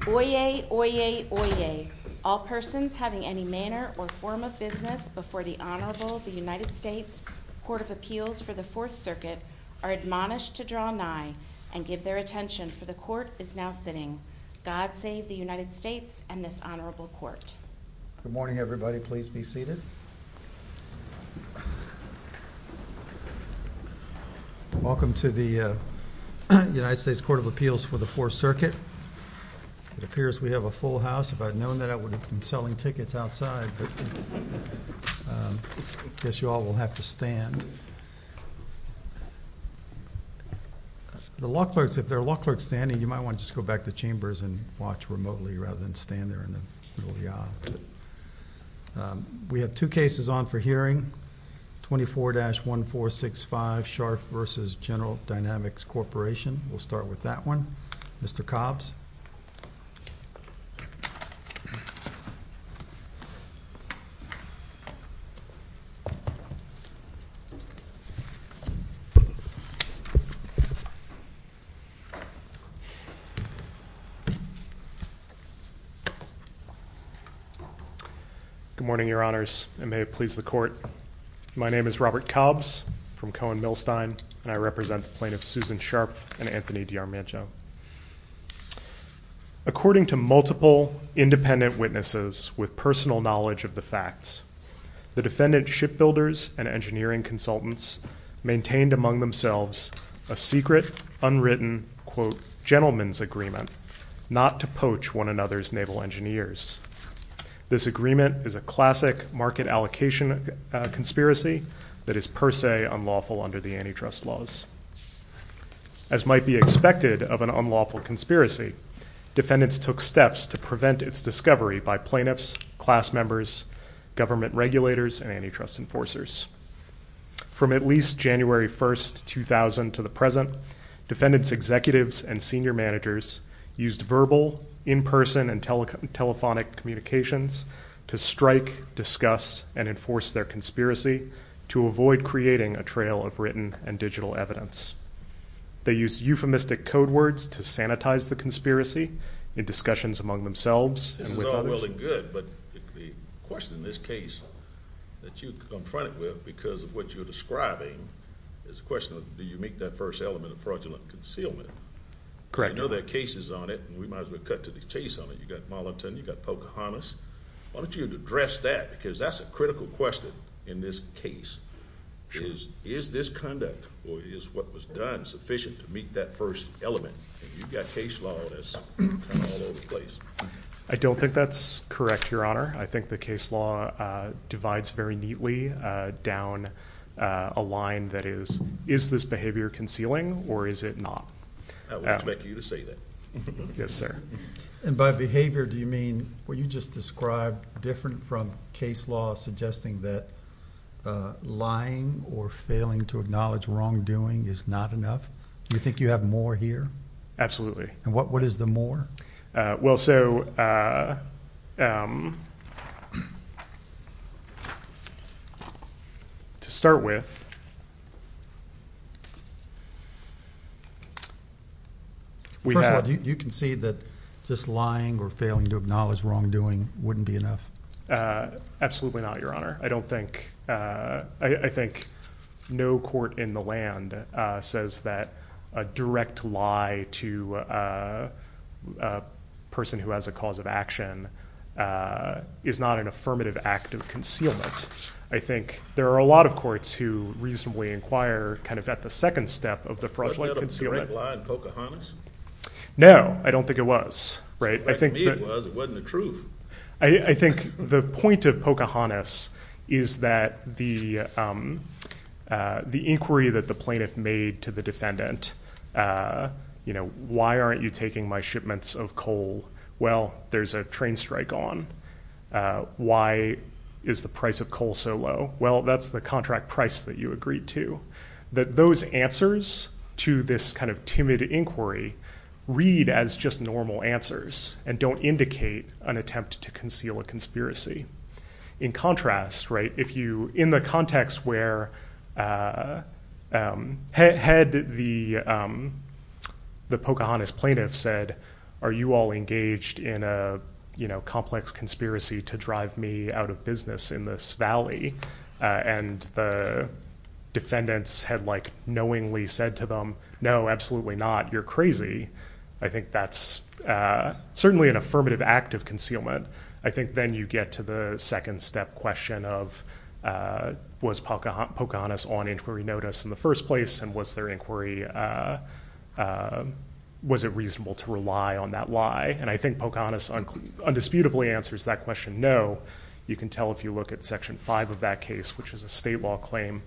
Oyez, oyez, oyez. All persons having any manner or form of business before the Honorable United States Court of Appeals for the Fourth Circuit are admonished to draw nigh and give their attention, for the Court is now sitting. God save the United States and this Honorable Court. Good morning, everybody. Please be seated. Welcome to the United States Court of Appeals for the Fourth Circuit. It appears we have a full house. If I'd known that, I would have been selling tickets outside. I guess you all will have to stand. The law clerks, if there are law clerks standing, you might want to just go back to chambers and watch remotely, rather than stand there in the middle of the aisle. We have two cases on for hearing, 24-1465 Scharpf v. General Dynamics Corporation. We'll start with that one. Mr. Cobbs. Good morning, Your Honors, and may it please the Court. My name is Robert Cobbs, from Cohen Milstein, and I represent the plaintiffs Susan Scharpf and Anthony DiArmaggio. According to multiple independent witnesses with personal knowledge of the facts, the defendant shipbuilders and engineering consultants maintained among themselves a secret, unwritten, quote, gentleman's agreement not to poach one another's naval engineers. This agreement is a classic market allocation conspiracy that is per se unlawful under the antitrust laws. As might be expected of an unlawful conspiracy, defendants took steps to prevent its discovery by plaintiffs, class members, government regulators, and antitrust enforcers. From at least January 1st, 2000 to the present, defendants' executives and senior managers used verbal, in-person, and telephonic communications to strike, discuss, and enforce their conspiracy to avoid creating a trail of written and digital evidence. They used euphemistic code words to sanitize the conspiracy in discussions among themselves and with others. This is all well and good, but the question in this case that you're confronted with because of what you're describing is a question of do you make that first element of fraudulent concealment? Correct. I know there are cases on it, and we might as well cut to the chase on it. You've got Moliton, you've got Pocahontas. Why don't you address that because that's a critical question in this case. Is this conduct or is what was done sufficient to meet that first element? You've got case law that's all over the place. I don't think that's correct, Your Honor. I think the case law divides very neatly down a line that is, is this behavior concealing or is it not? I would expect you to say that. Yes, sir. And by behavior, do you mean what you just described different from case law suggesting that lying or failing to acknowledge wrongdoing is not enough? You think you have more here? Absolutely. And what, what is the more? Well, so, uh, um, to start with, we had, you can see that just lying or failing to acknowledge wrongdoing wouldn't be enough. Absolutely not, Your Honor. I don't think, uh, I think no court in the land says that a direct lie to a person who has a cause of action, uh, is not an affirmative act of concealment. I think there are a lot of courts who reasonably inquire kind of at the second step of the fraudulent concealment. Was that a direct lie in Pocahontas? No, I don't think it was. Right. I think it was, it wasn't the truth. I think the point of Pocahontas is that the, um, uh, the inquiry that the plaintiff made to the defendant, uh, you know, why aren't you taking my shipments of coal? Well, there's a train strike on, uh, why is the price of coal so low? Well, that's the contract price that you agreed to that those answers to this kind of timid inquiry read as just normal answers and don't indicate an attempt to conceal a conspiracy. In contrast, right? If you in the a, you know, complex conspiracy to drive me out of business in this valley. Uh, and the defendants had like knowingly said to them, no, absolutely not. You're crazy. I think that's, uh, certainly an affirmative act of concealment. I think then you get to the second step question of, uh, was Pocahontas on inquiry notice in the first place and was there inquiry, uh, uh, was it reasonable to rely on that lie? And I think Pocahontas on undisputably answers that question. No, you can tell if you look at section five of that case, which is a state law claim.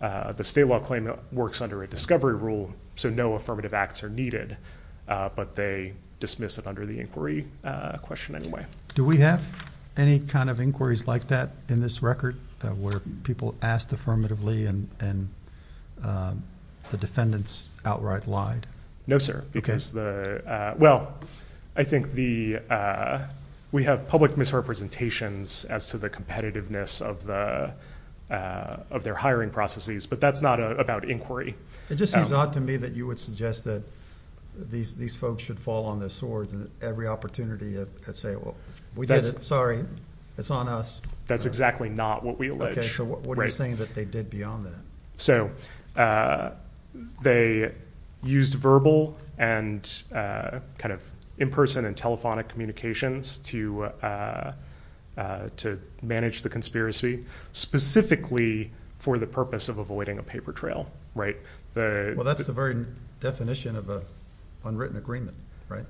Uh, the state law claim works under a discovery rule. So no affirmative acts are needed, uh, but they dismiss it under the inquiry question anyway. Do we have any kind of inquiries like that in this record where people asked affirmatively and, and, um, the defendants outright lied? No, sir. Because the, uh, well, I think the, uh, we have public misrepresentations as to the competitiveness of the, uh, of their hiring processes, but that's not about inquiry. It just seems odd to me that you would suggest that these, these folks should fall on their swords and every opportunity to say, well, we did it. Sorry. It's on us. That's exactly not what we alleged. So what are you saying that they did beyond that? So, uh, they used verbal and, uh, kind of in person and telephonic communications to, uh, uh, to manage the conspiracy specifically for the purpose of avoiding a paper trail, right? The, well, that's the very definition of a unwritten agreement, right?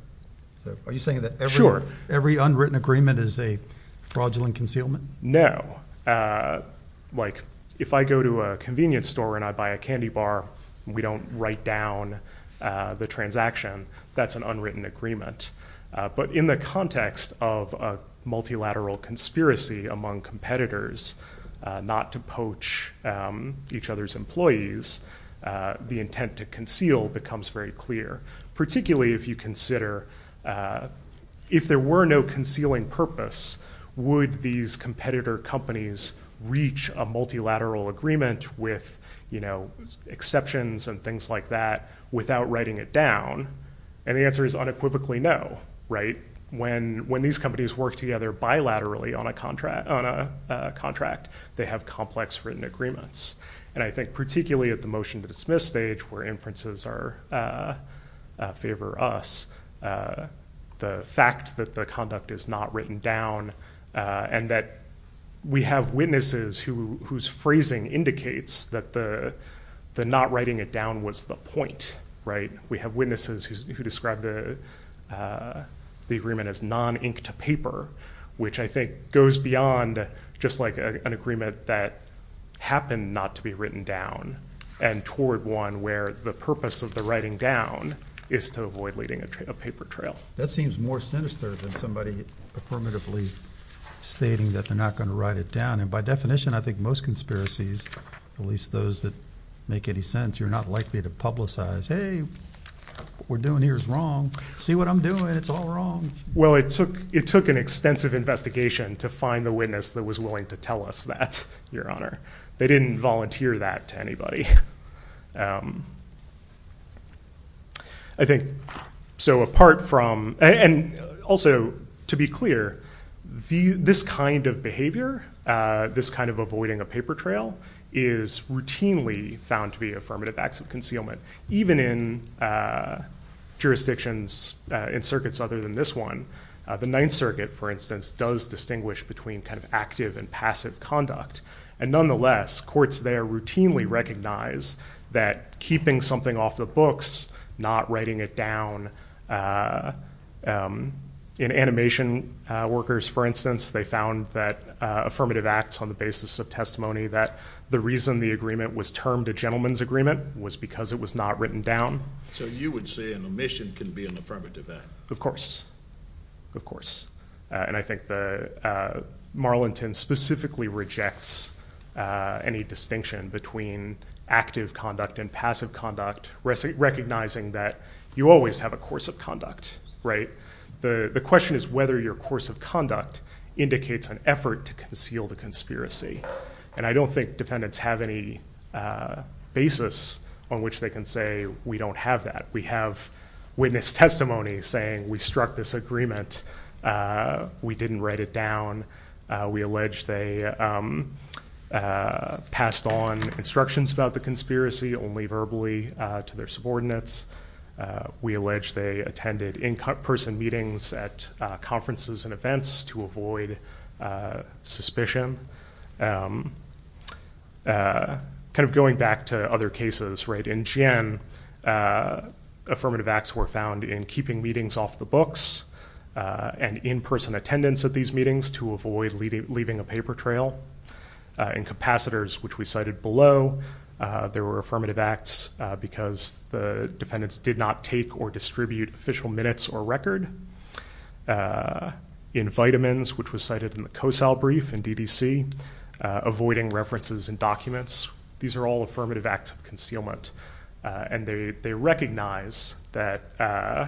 So are you saying that every unwritten agreement is a fraudulent concealment? No. Uh, like if I go to a convenience store and I buy a candy bar, we don't write down, uh, the transaction. That's an unwritten agreement. Uh, but in the context of a multilateral conspiracy among competitors, uh, not to poach, um, each other's employees, uh, the intent to conceal becomes very clear. Particularly if you consider, uh, if there were no concealing purpose, would these competitor companies reach a multilateral agreement with, you know, exceptions and things like that without writing it down? And the answer is unequivocally no, right? When, when these companies work together bilaterally on a contract, on a contract, they have complex written agreements. And I think particularly at the motion to dismiss stage where inferences are, uh, uh, favor us, uh, the fact that the conduct is not written down, uh, and that we have witnesses who, whose phrasing indicates that the, the not writing it down was the point, right? We have witnesses who, who described the, uh, the agreement as non-ink to paper, which I think goes beyond just like an agreement that happened not to be written down and toward one where the purpose of the writing down is to avoid leading a paper trail. That seems more sinister than somebody affirmatively stating that they're not going to write it down. And by definition, I think most conspiracies, at least those that make any sense, you're not likely to publicize, Hey, we're doing here is wrong. See what I'm doing. It's all wrong. Well, it took, it took an extensive investigation to find the witness that was willing to tell us that your honor, they didn't volunteer that to anybody. Um, I think so apart from, and also to be clear, the, this kind of behavior, uh, this kind of avoiding a paper trail is routinely found to be affirmative acts of concealment, even in, uh, jurisdictions, uh, in circuits other than this one, uh, the ninth circuit for instance, does distinguish between active and passive conduct and nonetheless courts there routinely recognize that keeping something off the books, not writing it down, uh, um, in animation, uh, workers, for instance, they found that, uh, affirmative acts on the basis of testimony that the reason the agreement was termed a gentleman's agreement was because it was not written down. So you would say an omission can be an affirmative act. Of course, of course. Uh, and I think the, uh, Marlington specifically rejects, uh, any distinction between active conduct and passive conduct resting, recognizing that you always have a course of conduct, right? The question is whether your course of conduct indicates an effort to conceal the conspiracy. And I don't think defendants have any, uh, basis on which they can say, we don't have that. We have witness testimony saying we struck this agreement. Uh, we didn't write it down. Uh, we allege they, um, uh, passed on instructions about the conspiracy only verbally, uh, to their subordinates. Uh, we allege they attended in person meetings at, uh, conferences and events to avoid, uh, suspicion. Um, uh, kind of going back to other cases right in Jian, uh, affirmative acts were found in keeping meetings off the books, uh, and in-person attendance at these meetings to avoid leaving a paper trail, uh, in capacitors, which we cited below, uh, there were affirmative acts, uh, because the defendants did not take or distribute official minutes or record, uh, in vitamins, which was cited in the COSAL brief in DDC, uh, avoiding references and documents. These are all affirmative acts of concealment. Uh, and they, they recognize that, uh,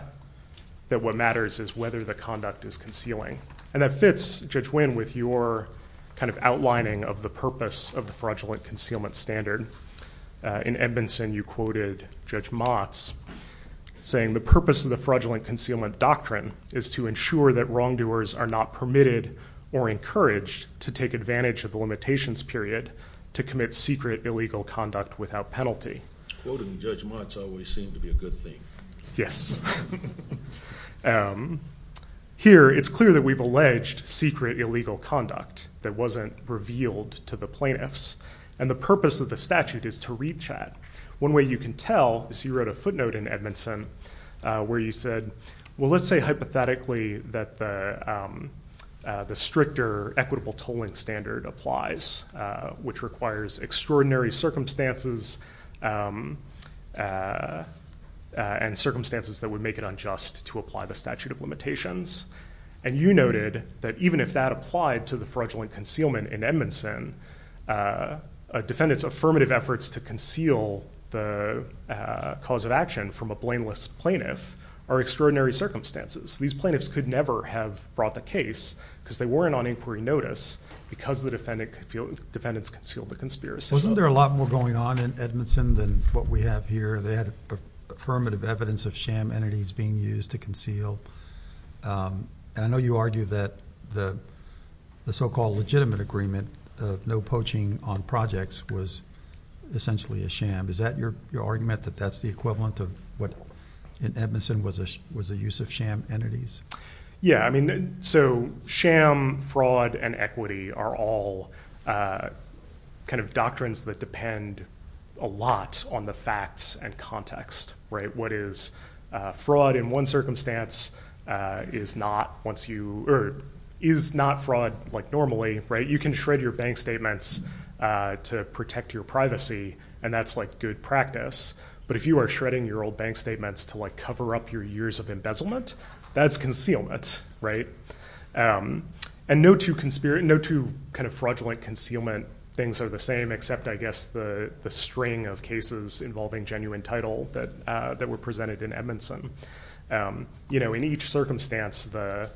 that what matters is whether the conduct is concealing. And that fits Judge Wynn with your kind of outlining of the purpose of the fraudulent concealment standard. Uh, in Edmondson, you quoted Judge Motz saying the purpose of the fraudulent concealment doctrine is to ensure that wrongdoers are not permitted or encouraged to take advantage of the limitations period to commit secret illegal conduct without penalty. Quoting Judge Motz always seemed to be a good thing. Yes. Um, here it's clear that we've alleged secret illegal conduct that wasn't revealed to the plaintiffs. And the purpose of the statute is to reach out. One way you can tell is you wrote a note in Edmondson, uh, where you said, well, let's say hypothetically that the, um, uh, the stricter equitable tolling standard applies, uh, which requires extraordinary circumstances, um, uh, uh, and circumstances that would make it unjust to apply the statute of limitations. And you noted that even if that applied to the fraudulent concealment in Edmondson, uh, uh, defendants, affirmative efforts to conceal the, uh, cause of action from a blameless plaintiff are extraordinary circumstances. These plaintiffs could never have brought the case because they weren't on inquiry notice because the defendant could feel defendants concealed the conspiracy. Wasn't there a lot more going on in Edmondson than what we have here? They had affirmative evidence of sham entities being used to conceal. Um, and I know you argue that the, the so-called legitimate agreement of no poaching on projects was essentially a sham. Is that your, your argument that that's the equivalent of what in Edmondson was a, was a use of sham entities? Yeah. I mean, so sham fraud and equity are all, uh, kind of doctrines that depend a lot on the and context, right? What is a fraud in one circumstance, uh, is not once you, or is not fraud like normally, right? You can shred your bank statements, uh, to protect your privacy. And that's like good practice. But if you are shredding your old bank statements to like cover up your years of embezzlement, that's concealment, right? Um, and no two conspiracy, no two kind of fraudulent concealment things are the same, except I guess the, the string of cases involving genuine title that, uh, that were presented in Edmondson. Um, you know, in each circumstance, the,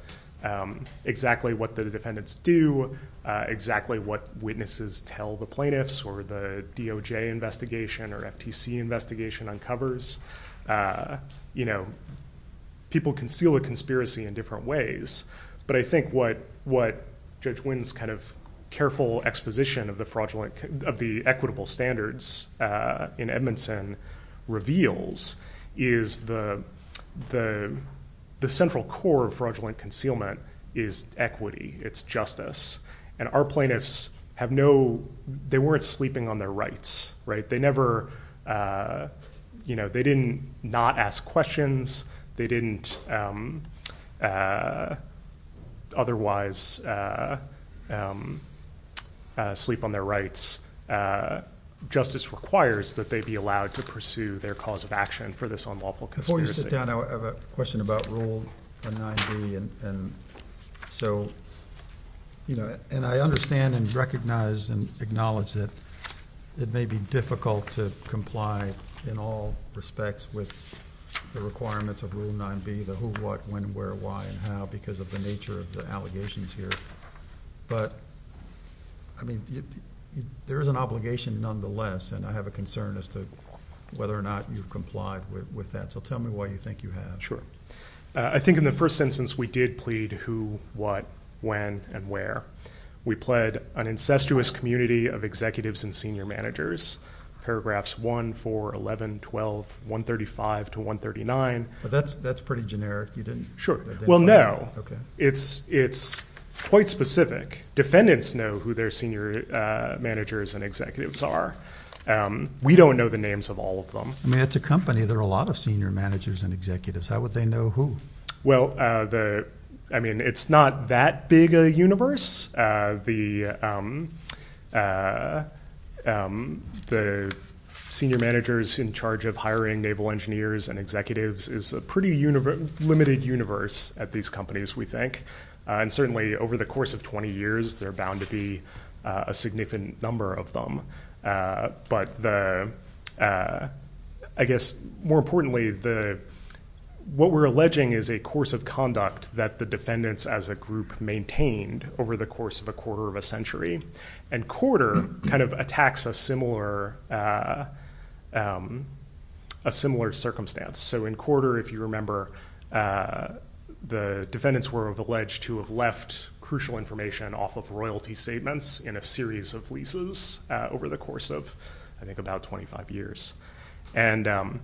um, exactly what the defendants do, uh, exactly what witnesses tell the plaintiffs or the DOJ investigation or FTC investigation uncovers, uh, you know, people conceal a conspiracy in different ways. But I think what, what judge wins kind of careful exposition of the fraudulent, of the equitable standards, uh, in Edmondson reveals is the, the, the central core of fraudulent concealment is equity. It's justice. And our plaintiffs have no, they weren't sleeping on their rights, right? They never, uh, you know, they didn't not ask questions. They didn't, um, uh, uh, otherwise, uh, um, uh, sleep on their rights. Uh, justice requires that they be allowed to pursue their cause of action for this unlawful conspiracy. I have a question about rule and nine B. And so, you know, and I understand and recognize and acknowledge that it may be difficult to comply in all respects with the requirements of rule nine B, the who, what, when, where, why and how, because of the nature of the allegations here. But I mean, there is an obligation nonetheless. And I have a concern as to whether or not you've complied with that. So tell me why you think you have. Sure. I think in the first instance, we did plead who, what, when and where we pled an incestuous community of executives and senior managers, paragraphs one, four, 11, 12, 1 35 to 1 39. But that's, that's pretty generic. You didn't sure. Well, no, it's, it's quite specific. Defendants know who their senior, uh, managers and executives are. Um, we don't know the names of all of them. I mean, it's a company. There are a lot of senior managers and executives. How would they know who? Well, uh, the, I mean, it's not that big a universe. Uh, the, um, uh, um, the senior managers in charge of hiring naval engineers and executives is a pretty universe, limited universe at these companies, we think. Uh, and certainly over the course of 20 years, they're bound to be a significant number of them. Uh, but the, uh, I guess more importantly, the, what we're alleging is a course of conduct that the defendants as a group maintained over the course of a quarter of a century. And quarter kind of attacks a similar, uh, um, a similar circumstance. So in quarter, if you remember, uh, the defendants were of alleged to have left crucial information off of royalty statements in a series of leases, uh, over the course of, I think about 25 years. And, um,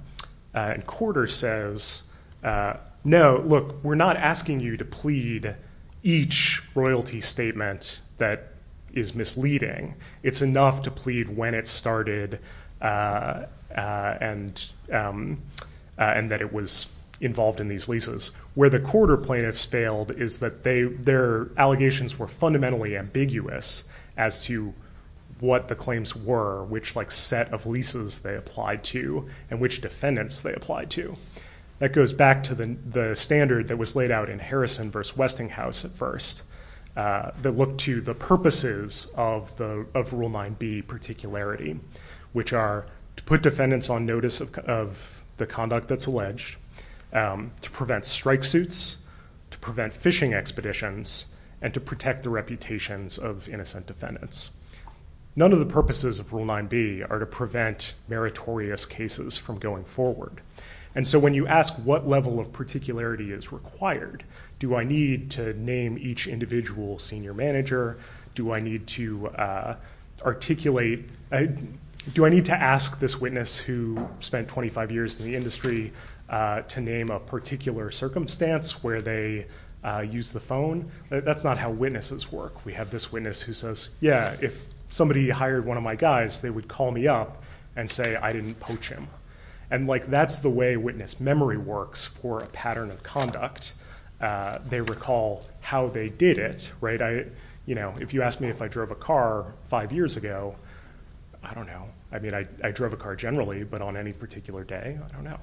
uh, quarter says, uh, no, look, we're not asking you to plead each royalty statement that is misleading. It's enough to plead when it started. Uh, uh, and, um, uh, and that it was involved in these leases where the quarter plaintiffs failed is that they, their allegations were fundamentally ambiguous as to what the claims were, which like set of leases they applied to and which defendants they applied to. That goes back to the, the standard that was laid out in Harrison versus Westinghouse at first, uh, that looked to the purposes of the, of rule nine B particularity, which are to put defendants on notice of, of the conduct that's alleged, um, to prevent strike suits, to prevent fishing expeditions and to protect the reputations of innocent defendants. None of the purposes of rule nine B are to prevent meritorious cases from going forward. And so when you ask what level of particularity is required, do I need to name each individual senior manager? Do I need to, uh, articulate, do I need to ask this witness who spent 25 years in the industry, uh, to name a particular circumstance where they, uh, use the phone. That's not how witnesses work. We have this witness who says, yeah, if somebody hired one of my guys, they would call me up and say, I didn't poach him. And like, that's the way witness memory works for a pattern of conduct. Uh, they recall how they did it, right. I, you know, if you asked me if I drove a car five years ago, I don't know. I mean, I, I drove a car generally, but on any particular day, I don't know.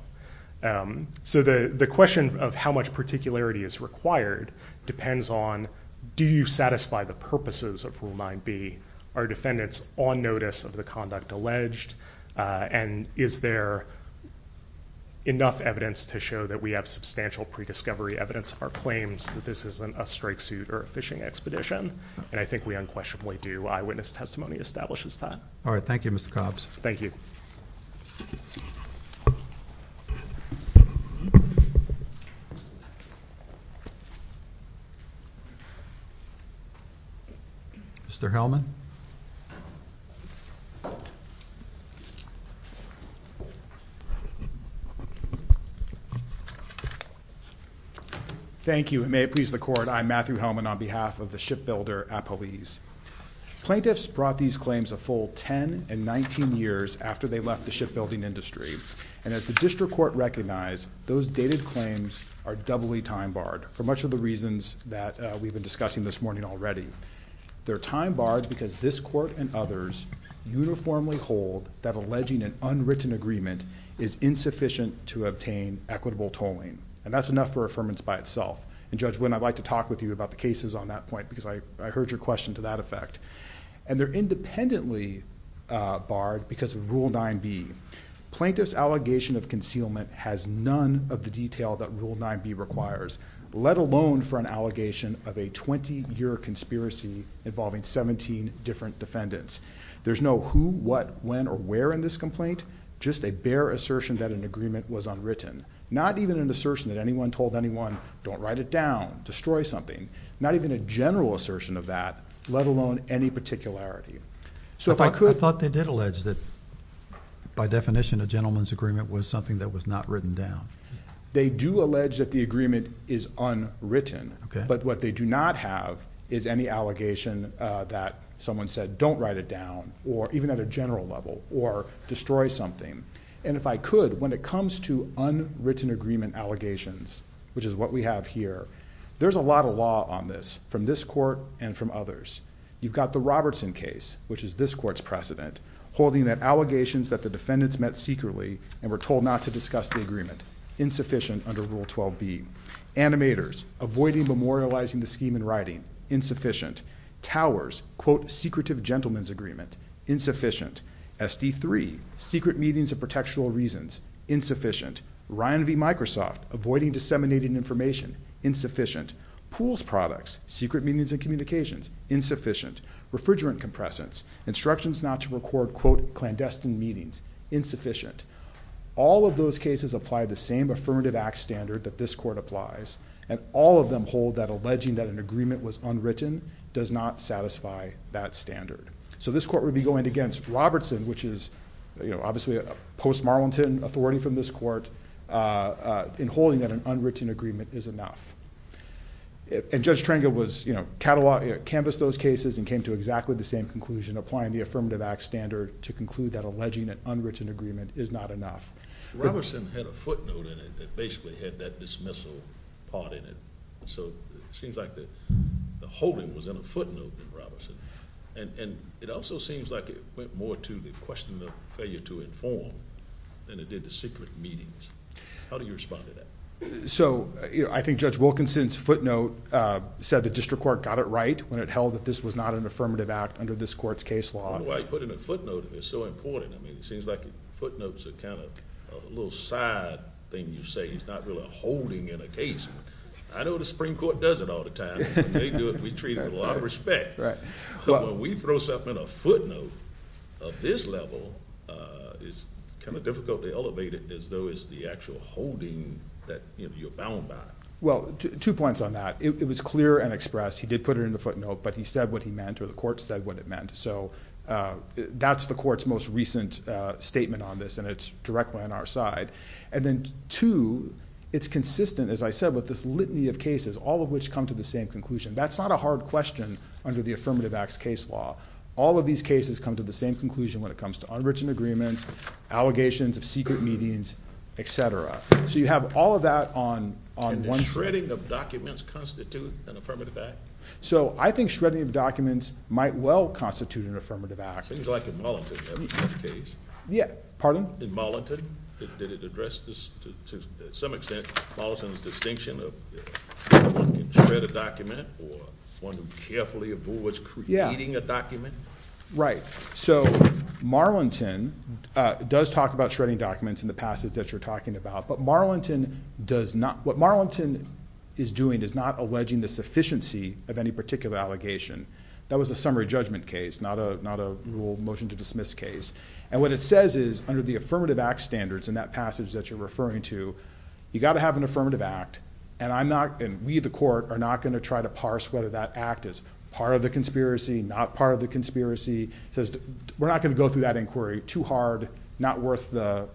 Um, so the, the question of how much particularity is required depends on, do you satisfy the purposes of rule nine B are defendants on notice of the conduct alleged? Uh, and is there enough evidence to show that we have substantial prediscovery evidence or claims that this isn't a strike suit or a fishing expedition? And I think we unquestionably do. Eyewitness testimony establishes that. All right. Thank you, Mr. Cobbs. Thank you. Mr. Hellman. Thank you. May it please the court. I'm Matthew Hellman on behalf of the shipbuilder police. Plaintiffs brought these claims a full 10 and 19 years after they left the shipbuilding industry. And as the district court recognized, those dated claims are doubly time barred for much of the reasons that we've been discussing this morning already. They're time barred because this court and others uniformly hold that alleging an unwritten agreement is insufficient to obtain equitable tolling. And that's enough for affirmance by itself. And judge, when I'd like to talk with you about the cases on that point, because I heard your question to that effect and they're independently barred because of rule nine B plaintiff's allegation of concealment has none of the detail that rule nine B requires, let alone for an allegation of a 20 year conspiracy involving 17 different defendants. There's no who, what, when, or where in this complaint, just a bear assertion that an agreement was unwritten, not even an assertion that anyone told anyone don't write it down, destroy something, not even a general assertion of that, let alone any particularity. So if I could, I thought they did allege that by definition, a gentleman's agreement was something that was not written down. They do allege that the agreement is unwritten, but what they do not have is any allegation that someone said, don't write it down or even at a general level or destroy something. And if I could, when it comes to unwritten agreement allegations, which is what we have here, there's a lot of law on this from this court and from others. You've got the Robertson case, which is this court's precedent holding that allegations that the defendants met secretly and were told not to discuss the agreement insufficient under rule 12 B animators, avoiding memorializing the scheme and writing insufficient towers, quote secretive gentlemen's agreement insufficient SD three secret meetings of reasons insufficient Ryan V Microsoft avoiding disseminating information insufficient pools products, secret meetings and communications insufficient refrigerant compresses instructions not to record quote clandestine meetings insufficient. All of those cases apply the same affirmative act standard that this court applies. And all of them hold that alleging that an agreement was unwritten does not satisfy that standard. So this court would be going against Robertson, which is, you know, obviously a post Marlington authority from this court in holding that an unwritten agreement is enough. And Judge Tranga was, you know, catalog canvas those cases and came to exactly the same conclusion, applying the affirmative act standard to conclude that alleging an unwritten agreement is not enough. Robertson had a footnote in it that basically had that dismissal part in it. So it seems like the holding was in a footnote in Robertson, and it also seems like it went more to the question of failure to inform than it did the secret meetings. How do you respond to that? So I think Judge Wilkinson's footnote said the district court got it right when it held that this was not an affirmative act under this court's case law. I put in a footnote. It's so important. I mean, it seems like footnotes are kind of a little side thing. You say he's not really holding in a case. I know the Supreme Court does it all the time. They do it. We treat it with a lot of respect. But when we throw something in a footnote of this level, it's kind of difficult to elevate it as though it's the actual holding that you're bound by. Well, two points on that. It was clear and expressed. He did put it in the footnote, but he said what he meant or the court said what it meant. So that's the court's most recent statement on this, and it's directly on our side. And then two, it's consistent, as I said, with this litany of cases, all of which come to the same conclusion. That's not a hard question under the Affirmative Acts case law. All of these cases come to the same conclusion when it comes to unwritten agreements, allegations of secret meetings, etc. So you have all of that on one side. And does shredding of documents constitute an affirmative act? So I think shredding of documents might well constitute an affirmative act. Things like in Marlington. In Marlington, did it address to some extent Marlington's distinction of one can shred a document or one who carefully abhors creating a document? Right. So Marlington does talk about shredding documents in the passage that you're talking about. But what Marlington is doing is not alleging the sufficiency of any particular allegation. That was a summary judgment case, not a rule motion to dismiss case. And what it says is, under the Affirmative Acts standards in that passage that you're referring to, you've got to have an affirmative act. And we, the court, are not going to try to parse whether that act is part of the conspiracy, not part of the conspiracy. We're not going to go through that inquiry too hard, not worth the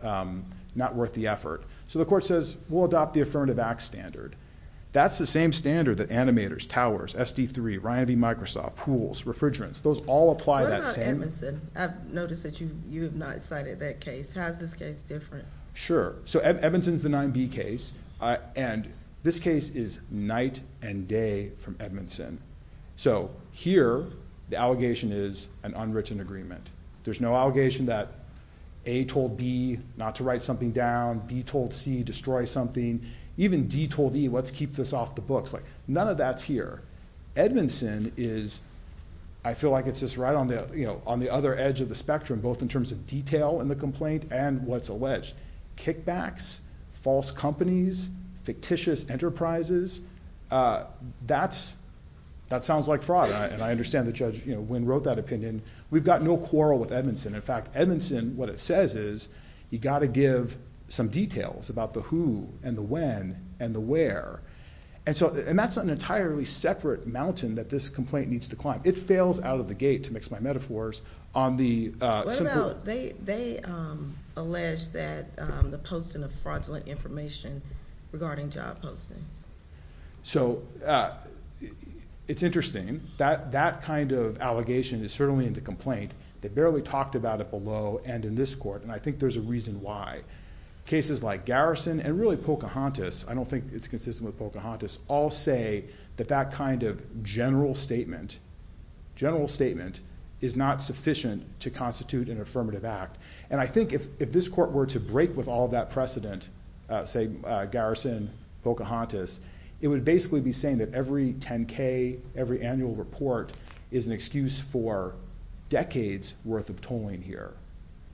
effort. So the court says, we'll adopt the Affirmative Acts standard. That's the same standard that animators, towers, SD3, Ryan V. Microsoft, pools, refrigerants, those all apply that same. What about Edmondson? I've noticed that you have not cited that case. How is this case different? Sure. So Edmondson is the 9B case. And this case is night and day from Edmondson. So here, the allegation is an unwritten agreement. There's no allegation that A told B not to write something down. B told C destroy something. Even D told E, let's keep this off the books. None of that's here. Edmondson is, I feel like it's just right on the other edge of the spectrum, both in terms of detail in the complaint and what's alleged. Kickbacks, false companies, fictitious enterprises, that sounds like fraud. And I understand that Judge Wynn wrote that opinion. We've got no quarrel with Edmondson. In fact, Edmondson, what it says is you got to give some details about the who and the when and the where. And that's an entirely separate mountain that this complaint needs to climb. It fails out of the gate, to mix my metaphors, on the- What about, they allege that the posting of fraudulent information regarding job postings. So it's interesting. That kind of allegation is in the complaint. They barely talked about it below and in this court. And I think there's a reason why. Cases like Garrison and really Pocahontas, I don't think it's consistent with Pocahontas, all say that that kind of general statement, general statement is not sufficient to constitute an affirmative act. And I think if this court were to break with all that precedent, say Garrison, Pocahontas, it would basically be saying that every 10K, every annual report is an excuse for decades worth of tolling here.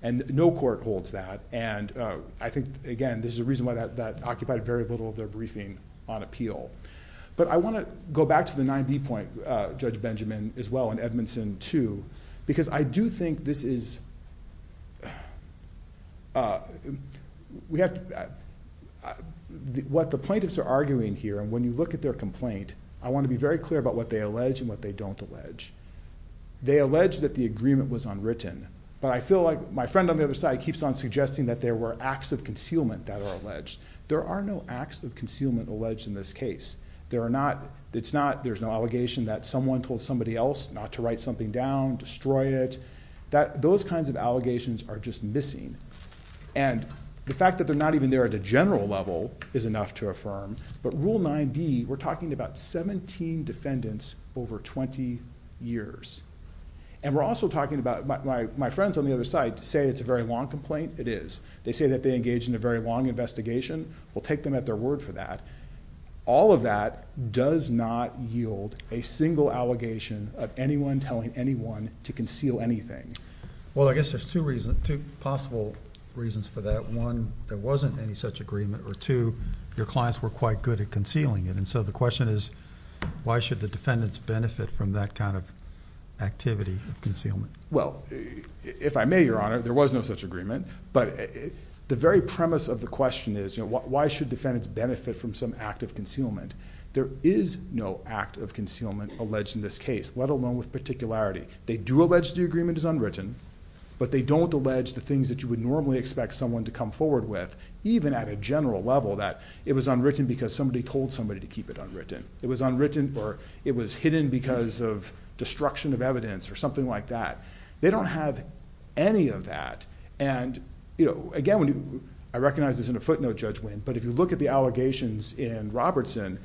And no court holds that. And I think, again, this is a reason why that occupied very little of their briefing on appeal. But I want to go back to the 9B point, Judge Benjamin, as well, and Edmondson too, because I do think this is- What the plaintiffs are arguing here, and when you look at their complaint, I want to be very clear about what they allege and what they don't allege. They allege that the agreement was unwritten. But I feel like my friend on the other side keeps on suggesting that there were acts of concealment that are alleged. There are no acts of concealment alleged in this case. It's not there's no allegation that someone told somebody else not to write something down, destroy it. Those kinds of allegations are just missing. And the fact that they're not even there at a general level is enough to affirm. But Rule 9B, we're talking about 17 defendants over 20 years. And we're also talking about- my friends on the other side say it's a very long complaint. It is. They say that they engaged in a very long investigation. We'll take them at their word for that. All of that does not yield a single allegation of anyone telling anyone to conceal anything. Well, I guess there's two possible reasons for that. One, there wasn't any such agreement. Or two, your clients were quite good concealing it. And so the question is, why should the defendants benefit from that kind of activity of concealment? Well, if I may, Your Honor, there was no such agreement. But the very premise of the question is, why should defendants benefit from some act of concealment? There is no act of concealment alleged in this case, let alone with particularity. They do allege the agreement is unwritten. But they don't allege the things that you would normally expect someone to come forward with, even at a general level, that it was unwritten because somebody told somebody to keep it unwritten. It was unwritten or it was hidden because of destruction of evidence or something like that. They don't have any of that. And again, I recognize this isn't a footnote, Judge Winn, but if you look at the allegations in Robertson,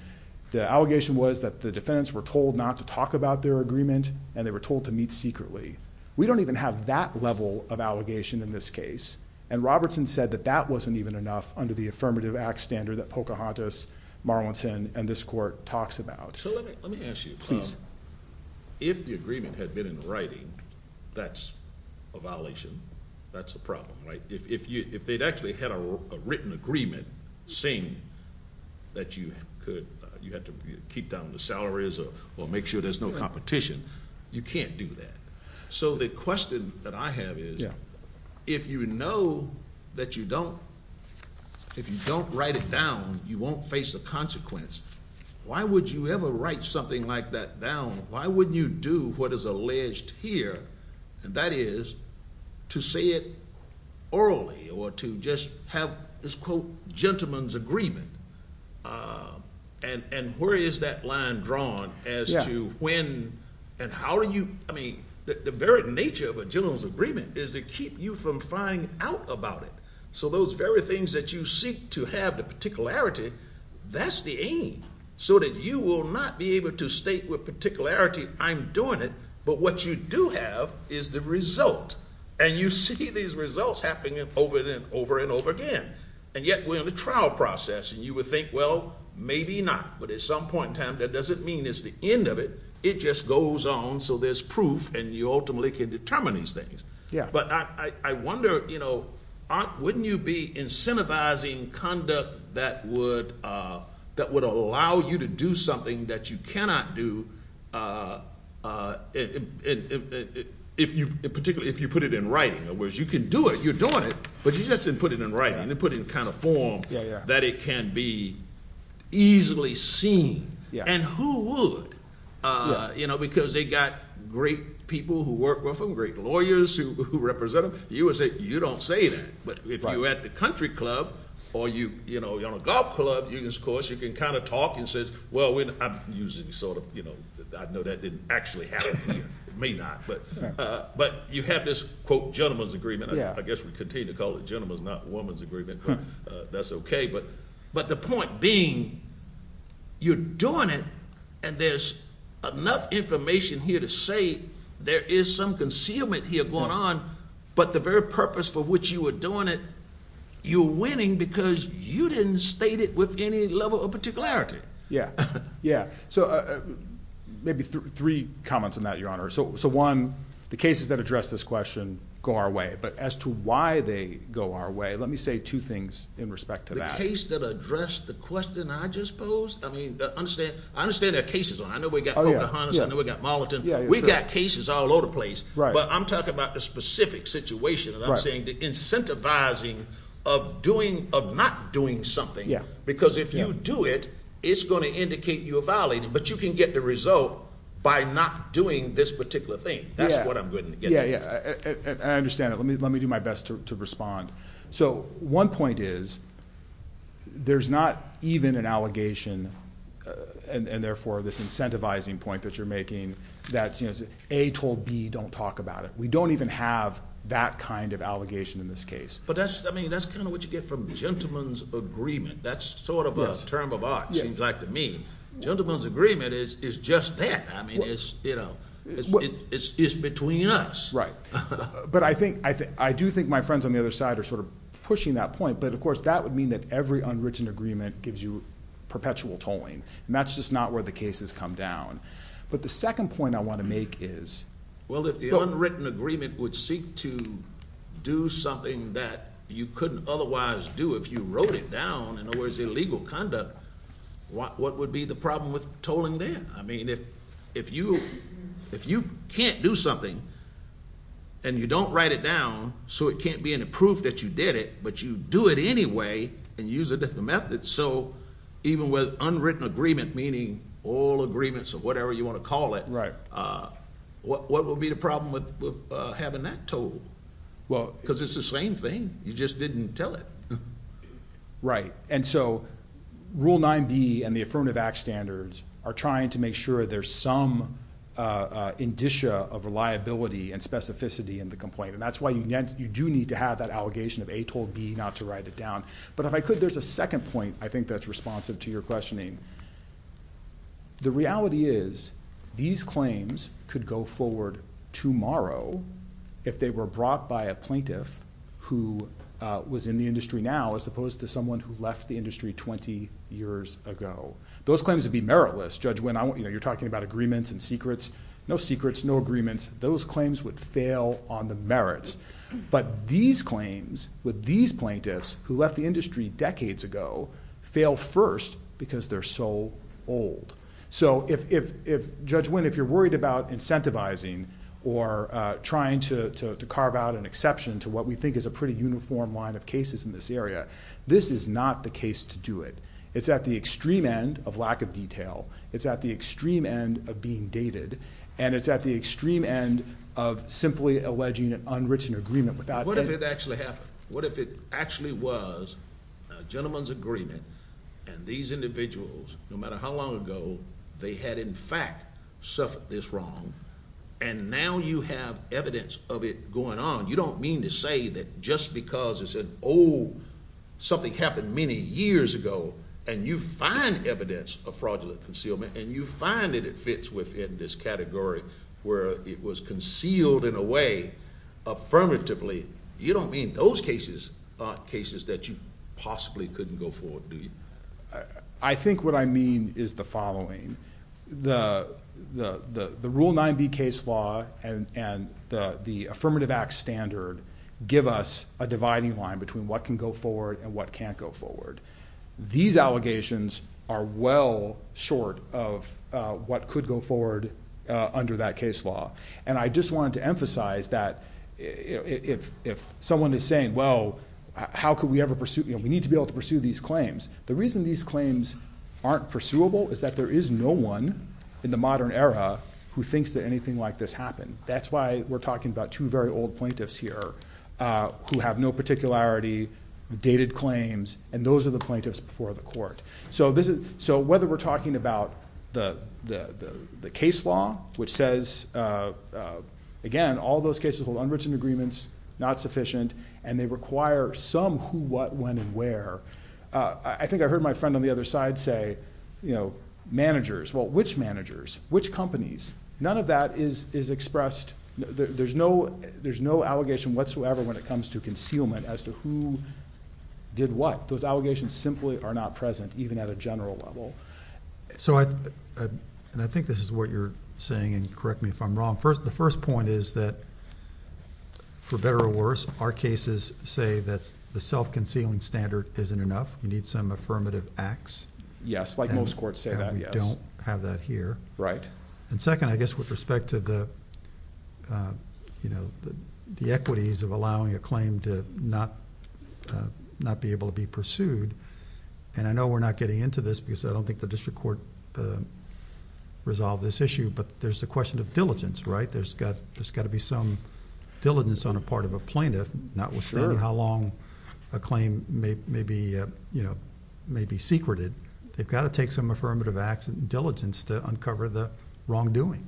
the allegation was that the defendants were told not to talk about their agreement and they were told to meet secretly. We don't even have that level of allegation in this case. And Robertson said that that wasn't even enough under the Affirmative Act standard that Pocahontas, Marlington, and this court talks about. So let me ask you, if the agreement had been in the writing, that's a violation, that's a problem, right? If they'd actually had a written agreement saying that you had to keep down the salaries or make sure there's no competition, you can't do that. So the question that I have is, if you know that you don't, if you don't write it down, you won't face a consequence, why would you ever write something like that down? Why wouldn't you do what is alleged here? And that is to say it orally or to just have this, quote, gentleman's agreement. And where is that line drawn as to when and how do you, I mean, the very nature of a gentleman's agreement is to keep you from flying out about it. So those very things that you seek to have the particularity, that's the aim. So that you will not be able to state with particularity, I'm doing it, but what you do have is the result. And you see these results happening over and over again. And yet we're in the trial process and you would think, well, maybe not, but at some point in time that doesn't mean it's the end of it. It just goes on. So there's proof and you ultimately can determine these things. But I wonder, wouldn't you be incentivizing conduct that would allow you to do something that you cannot do, particularly if you put it in writing, in other words, you can do it, you're doing it, but you just didn't put it in writing and put it in kind of form that it can be easily seen. And who would? Because they got great people who work with them, great lawyers who represent them. You would say, you don't say that. But if you're at the country club or you're on a golf club, of course, you can kind of talk and say, well, I know that didn't actually happen here. It may not. But you have this, quote, gentlemen's agreement. I guess we continue to call it gentlemen's, not woman's agreement, but that's okay. But the point being, you're doing it and there's enough information here to say there is some concealment here going on, but the very purpose for which you were doing it, you're winning because you didn't state it with any level of particularity. Yeah. Yeah. So maybe three comments on that, Your Honor. So one, the cases that address this question go our way, but as to why they go our way, let me say two things in respect to that. The case that addressed the question I just posed? I mean, I understand there are cases. I know we got Moliton. We got cases all over the place, but I'm talking about the specific situation and I'm saying the incentivizing of not doing something, because if you do it, it's going to indicate you are violating, but you can get the result by not doing this particular thing. That's what I'm getting at. Yeah. I understand that. Let me do my best to respond. So one point is there's not even an allegation, and therefore this incentivizing point that you're making, that A told B don't talk about it. We don't even have that kind of allegation in this case. But that's kind of what you get from gentleman's agreement. That's sort of a term of art, seems like to me. Gentleman's agreement is just that. I mean, it's between us. Right. But I do think my friends on the other side are sort of pushing that point, but of course, that would mean that every unwritten agreement gives you perpetual tolling, and that's just not where the cases come down. But the second point I want to make is- Well, if the unwritten agreement would seek to do something that you couldn't otherwise do, if you wrote it down and it was illegal conduct, what would be the problem with tolling then? I mean, if you can't do something and you don't write it down, so it can't be any proof that you did it, but you do it anyway and use a different method. So even with unwritten agreement, meaning all agreements or whatever you want to call it, what would be the problem with having that tolled? Well, because it's the same thing. You just didn't tell it. Right. And so Rule 9B and the Affirmative Act standards are trying to make sure there's some indicia of reliability and specificity in the complaint, and that's why you do need to have that allegation of A told B not to write it down. But if I could, there's a second point I think that's responsive to your questioning. The reality is these claims could go forward tomorrow if they were brought by a plaintiff who was in the industry now as opposed to someone who left the industry 20 years ago. Those claims would be meritless. Judge Wynn, you're talking about agreements and secrets. No secrets, no agreements. Those claims would fail on the merits. But these claims with these plaintiffs who left the industry decades ago fail first because they're so old. So if Judge Wynn, if you're worried about incentivizing or trying to carve out an exception to what we think is a pretty uniform line of cases in this area, this is not the case to do it. It's at the extreme end of lack of detail. It's at the extreme end of being dated. And it's at the extreme end of simply alleging an unwritten agreement. What if it actually happened? What if it actually was a gentleman's agreement and these individuals, no matter how long ago, they had in fact suffered this wrong and now you have evidence of it going on, you don't mean to say that just because it's an old, something happened many years ago and you find evidence of fraudulent concealment and you find that it fits within this category where it was concealed in a way affirmatively, you don't mean those cases aren't cases that you possibly couldn't go forward, do you? I think what I mean is the following. The Rule 9B case law and the Affirmative Act standard give us a dividing line between what can go forward and what can't go forward. These allegations are well short of what could go forward under that case law. And I just wanted to emphasize that if someone is saying, well, how could we ever pursue, you know, we need to be able to pursue these claims. The reason these claims aren't pursuable is that there is no one in the plaintiffs here who have no particularity, dated claims, and those are the plaintiffs before the court. So whether we're talking about the case law, which says, again, all those cases hold unwritten agreements, not sufficient, and they require some who, what, when, and where. I think I heard my friend on the other side say, you know, managers. Well, which managers? Which companies? None of that is expressed. There's no allegation whatsoever when it comes to concealment as to who did what. Those allegations simply are not present, even at a general level. So, and I think this is what you're saying, and correct me if I'm wrong. The first point is that for better or worse, our cases say that the self-concealing standard isn't enough. We need some affirmative acts. Yes, like most courts say that, yes. And we don't have that here. Right. And second, I guess with respect to the, you know, the equities of allowing a claim to not be able to be pursued, and I know we're not getting into this because I don't think the district court resolved this issue, but there's the question of diligence, right? There's got to be some diligence on the part of a plaintiff, notwithstanding how long a claim may be, you know, may be secreted. They've got to take some affirmative acts and diligence to uncover the wrongdoing.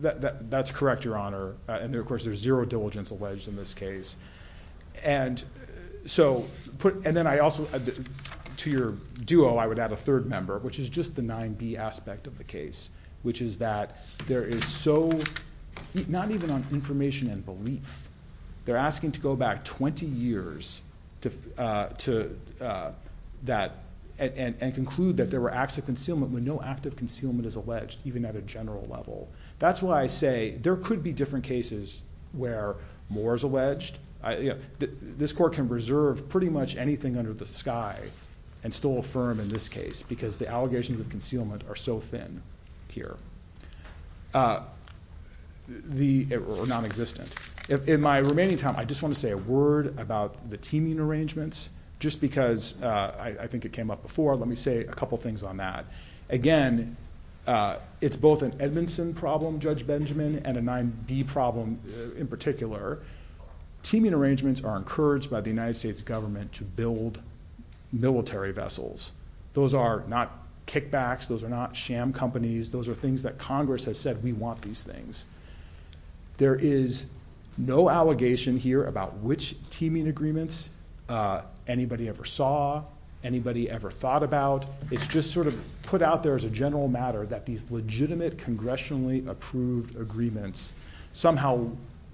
That's correct, Your Honor. And of course, there's zero diligence alleged in this case. And so, and then I also, to your duo, I would add a third member, which is just the 9B aspect of the case, which is that there is so, not even on information and belief, they're asking to go back 20 years to that and conclude that there were acts of concealment when no act of concealment is alleged, even at a general level. That's why I say there could be different cases where more is alleged. This court can reserve pretty much anything under the sky and still affirm in this case, because the allegations of concealment are so thin here, or non-existent. In my remaining time, I just want to say a word about the teaming arrangements, just because I think it came up before. Let me say a couple things on that. Again, it's both an Edmondson problem, Judge Benjamin, and a 9B problem in particular. Teaming arrangements are encouraged by the United States government to build military vessels. Those are not kickbacks. Those are not sham companies. Those are things that Congress has said, we want these things. There is no allegation here about which teaming agreements anybody ever saw, anybody ever thought about. It's just put out there as a general matter that these legitimate, congressionally approved agreements somehow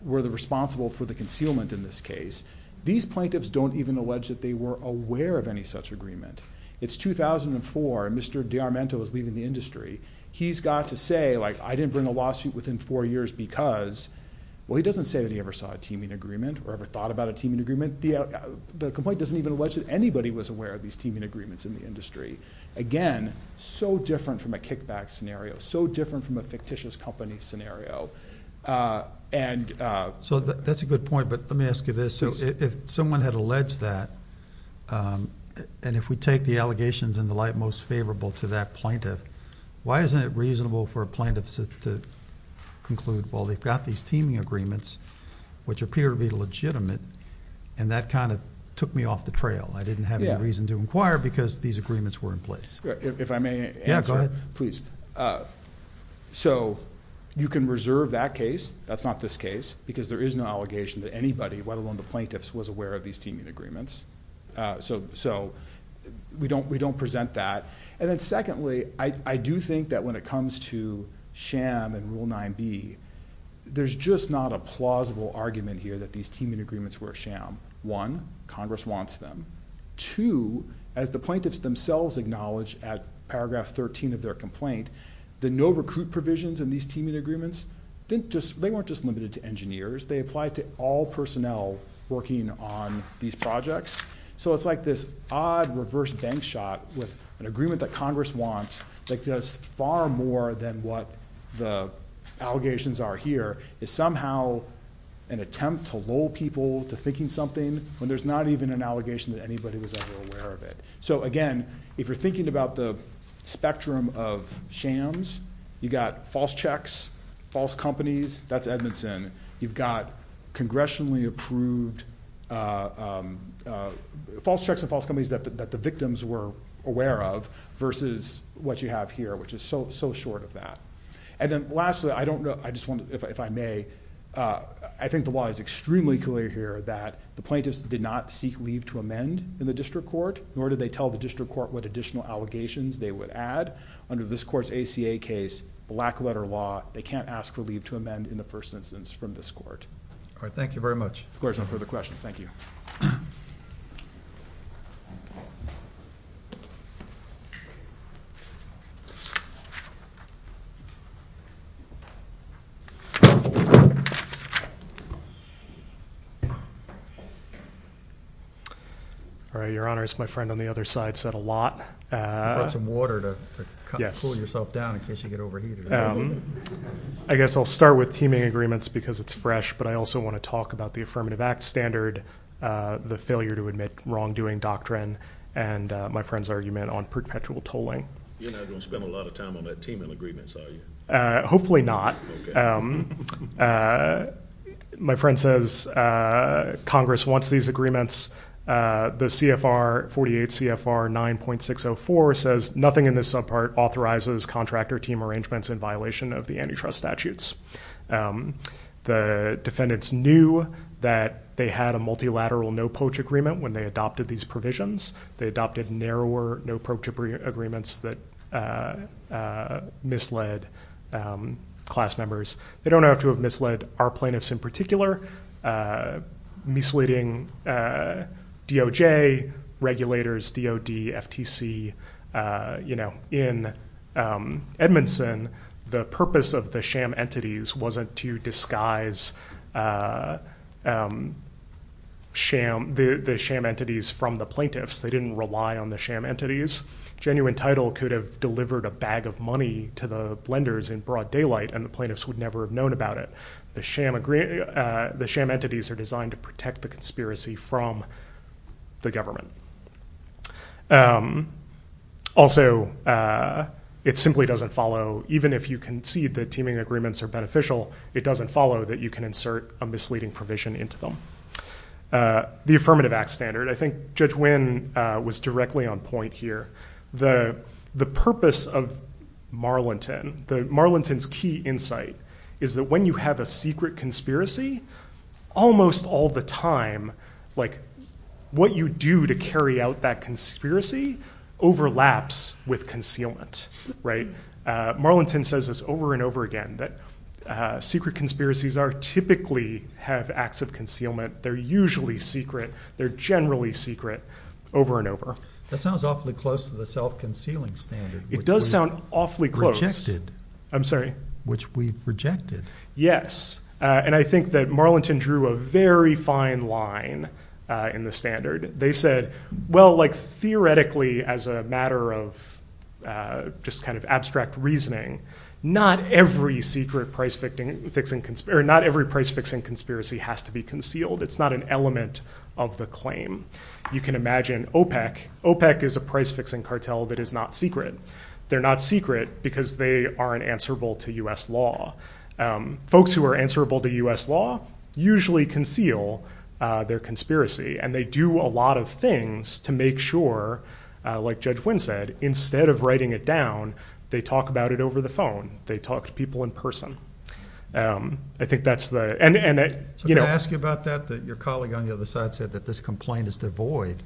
were responsible for the concealment in this case. These plaintiffs don't even allege that they were aware of any such agreement. It's 2004, and Mr. D'Armento is leaving the industry. He's got to say, I didn't bring a lawsuit within four years because, well, he doesn't say that he ever saw a teaming agreement or ever thought about a teaming agreement. The complaint doesn't even allege that anybody was aware of these teaming agreements in the industry. Again, so different from a kickback scenario, so different from a fictitious company scenario. That's a good point, but let me ask you this. If someone had alleged that, and if we take the allegations in the light most favorable to that plaintiff, why isn't it reasonable for a plaintiff to conclude, well, they've got these teaming agreements, which appear to be legitimate, and that kind of took me off the trail. I didn't have any reason to inquire because these agreements were in place. If I may answer, please. You can reserve that case, that's not this case, because there is no allegation that anybody, let alone the plaintiffs, was aware of these teaming agreements, so we don't present that. Then secondly, I do think that when it comes to sham and Rule 9b, there's just not a plausible argument here that these teaming agreements were a sham. One, Congress wants them. Two, as the plaintiffs themselves acknowledge at paragraph 13 of their complaint, the no recruit provisions in these teaming agreements, they weren't just limited to engineers, they applied to all personnel working on these projects. So it's like this odd reverse bank shot with an agreement that Congress wants that does far more than what the allegations are here, is somehow an attempt to lull people to thinking something when there's not even an allegation that anybody was ever aware of it. So again, if you're thinking about the spectrum of shams, you got false checks, false companies, that's Edmondson. You've got congressionally approved false checks and false companies that the victims were aware of versus what you have here, which is so short of that. And then lastly, I don't know, if I may, I think the law is extremely clear here that the plaintiffs did not seek leave to amend in the ad. Under this court's ACA case, black letter law, they can't ask for leave to amend in the first instance from this court. All right. Thank you very much. Of course. No further questions. Thank you. All right. Your Honor, it's my friend on the other side said a lot. I brought some water to cool yourself down in case you get overheated. I guess I'll start with teaming agreements because it's fresh, but I also want to talk about the Affirmative Act standard, the failure to admit wrongdoing doctrine, and my friend's argument on perpetual tolling. You're not going to spend a lot of time on that teaming agreements, are you? Hopefully not. My friend says Congress wants these agreements, the CFR 48, CFR 9.604, says nothing in this subpart authorizes contractor team arrangements in violation of the antitrust statutes. The defendants knew that they had a multilateral no poach agreement when they adopted these provisions. They adopted narrower no poach agreements that misled class members. They don't have to have misled our plaintiffs in particular, misleading DOJ, regulators, DOD, FTC. In Edmondson, the purpose of the sham entities wasn't to disguise the sham entities from the plaintiffs. They didn't rely on the sham entities. Genuine title could have delivered a bag of money to the lenders in broad daylight, and the plaintiffs would never have known about it. The sham entities are designed to protect the from the government. Also, it simply doesn't follow, even if you concede that teaming agreements are beneficial, it doesn't follow that you can insert a misleading provision into them. The affirmative act standard, I think Judge Wynn was directly on point here. The purpose of Marlinton, Marlinton's key insight is that when you have a secret conspiracy, almost all the time, what you do to carry out that conspiracy overlaps with concealment. Marlinton says this over and over again, that secret conspiracies typically have acts of concealment. They're usually secret. They're generally secret over and over. That sounds awfully close to the self-concealing standard. It does sound awfully close. Rejected. I'm sorry. Which we rejected. Yes. And I think that Marlinton drew a very fine line in the standard. They said, well, like theoretically, as a matter of just kind of abstract reasoning, not every secret price fixing, fixing, or not every price fixing conspiracy has to be concealed. It's not an claim. You can imagine OPEC. OPEC is a price fixing cartel that is not secret. They're not secret because they aren't answerable to U.S. law. Folks who are answerable to U.S. law usually conceal their conspiracy. And they do a lot of things to make sure, like Judge Wynn said, instead of writing it down, they talk about it over the phone. They talk to people in person. So can I ask you about that? Your colleague on the other side said that this complaint is devoid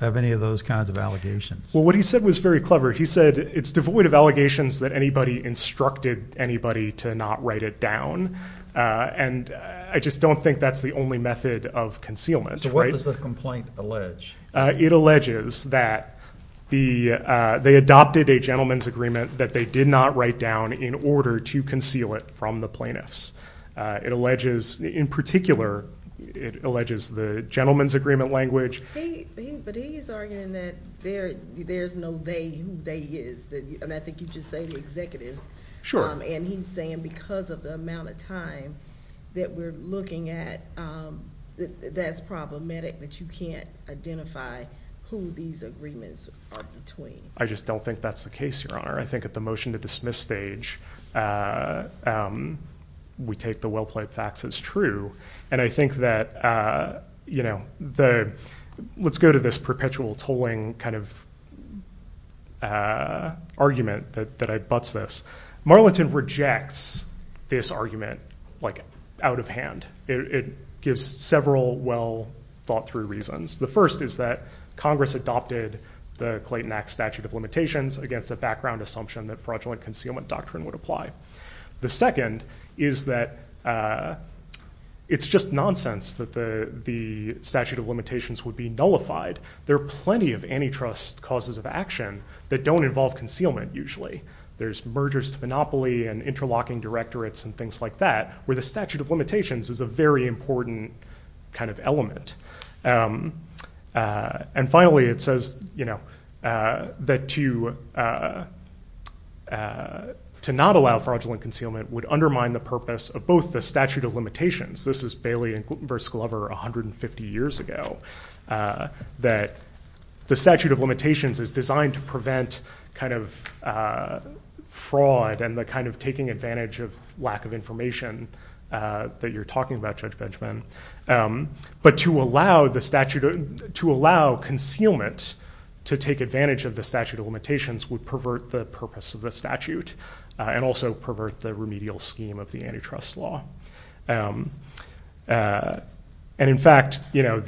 of any of those kinds of allegations. Well, what he said was very clever. He said it's devoid of allegations that anybody instructed anybody to not write it down. And I just don't think that's the only method of concealment. So what does the complaint allege? It alleges that they adopted a gentleman's agreement that they did not write down in order to conceal it from the plaintiffs. It alleges, in particular, it alleges the gentleman's agreement language. But he is arguing that there's no they, who they is. And I think you just say the executives. Sure. And he's saying because of the amount of time that we're looking at, that's problematic that you can't identify who these agreements are between. I just don't think that's the case, Your Honor. I think at the motion to dismiss stage, we take the well-played facts as true. And I think that, you know, let's go to this perpetual tolling kind of argument that I buts this. Marlington rejects this argument out of hand. It gives several well-thought-through reasons. The first is that Congress adopted the Clayton Act statute of limitations against a background assumption that fraudulent concealment doctrine would apply. The second is that it's just nonsense that the statute of limitations would be nullified. There are plenty of antitrust causes of action that don't involve concealment usually. There's mergers to monopoly and interlocking directorates and things like that, where the statute of limitations is a very important kind of element. And finally, it says, you know, that to not allow fraudulent concealment would undermine the purpose of both the statute of limitations. This is Bailey versus Glover 150 years ago, that the statute of limitations is designed to prevent kind of fraud and the kind of taking advantage of lack of information that you're talking about, Judge Benjamin. But to allow concealment to take advantage of the statute of limitations would pervert the purpose of the statute and also pervert the remedial scheme of the antitrust law. And in fact, you know,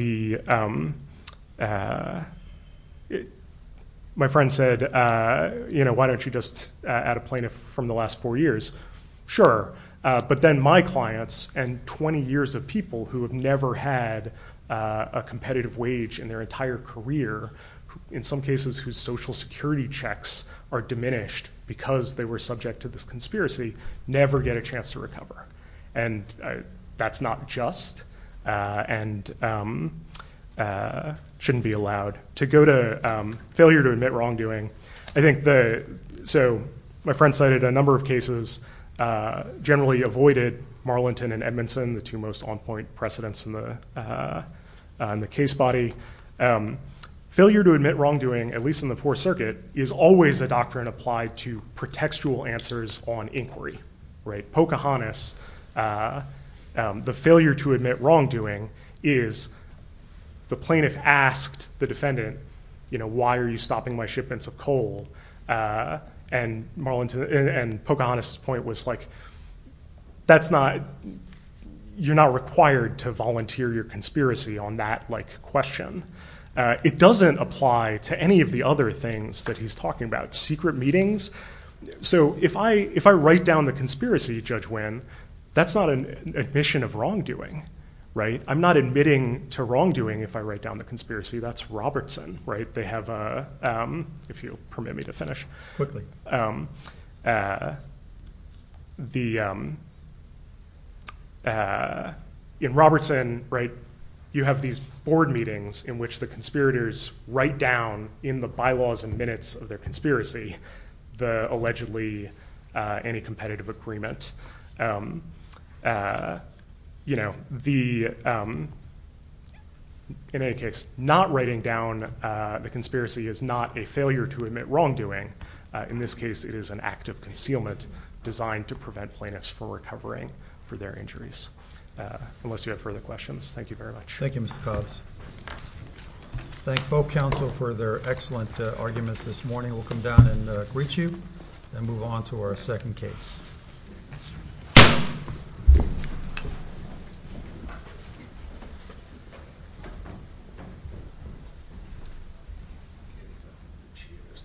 sure, but then my clients and 20 years of people who have never had a competitive wage in their entire career, in some cases whose social security checks are diminished because they were subject to this conspiracy, never get a chance to recover. And that's not just and shouldn't be allowed. To go to failure to admit wrongdoing, I think the, so my friend cited a number of cases, generally avoided, Marlington and Edmondson, the two most on point precedents in the case body. Failure to admit wrongdoing, at least in the Fourth Circuit, is always a doctrine applied to pretextual answers on inquiry, right? Pocahontas, the failure to admit wrongdoing is the plaintiff asked the defendant, you know, why are you stopping my shipments of coal? And Marlington and Pocahontas point was like, that's not, you're not required to volunteer your conspiracy on that like question. It doesn't apply to any of the other things that he's talking about secret meetings. So if I, if I write down the conspiracy, Judge Wynn, that's not an admission of wrongdoing, right? I'm not admitting to wrongdoing. If I write down the conspiracy, that's Robertson, right? They have, if you'll permit me to finish quickly, the, in Robertson, right? You have these board meetings in which the conspirators write down in the bylaws and minutes of their conspiracy, the allegedly any competitive agreement you know, the, um, in any case, not writing down the conspiracy is not a failure to admit wrongdoing. In this case, it is an act of concealment designed to prevent plaintiffs for recovering for their injuries. Unless you have further questions. Thank you very much. Thank you, Mr. Cobbs. Thank both counsel for their excellent arguments this morning. We'll come down and greet you and move on to our second case.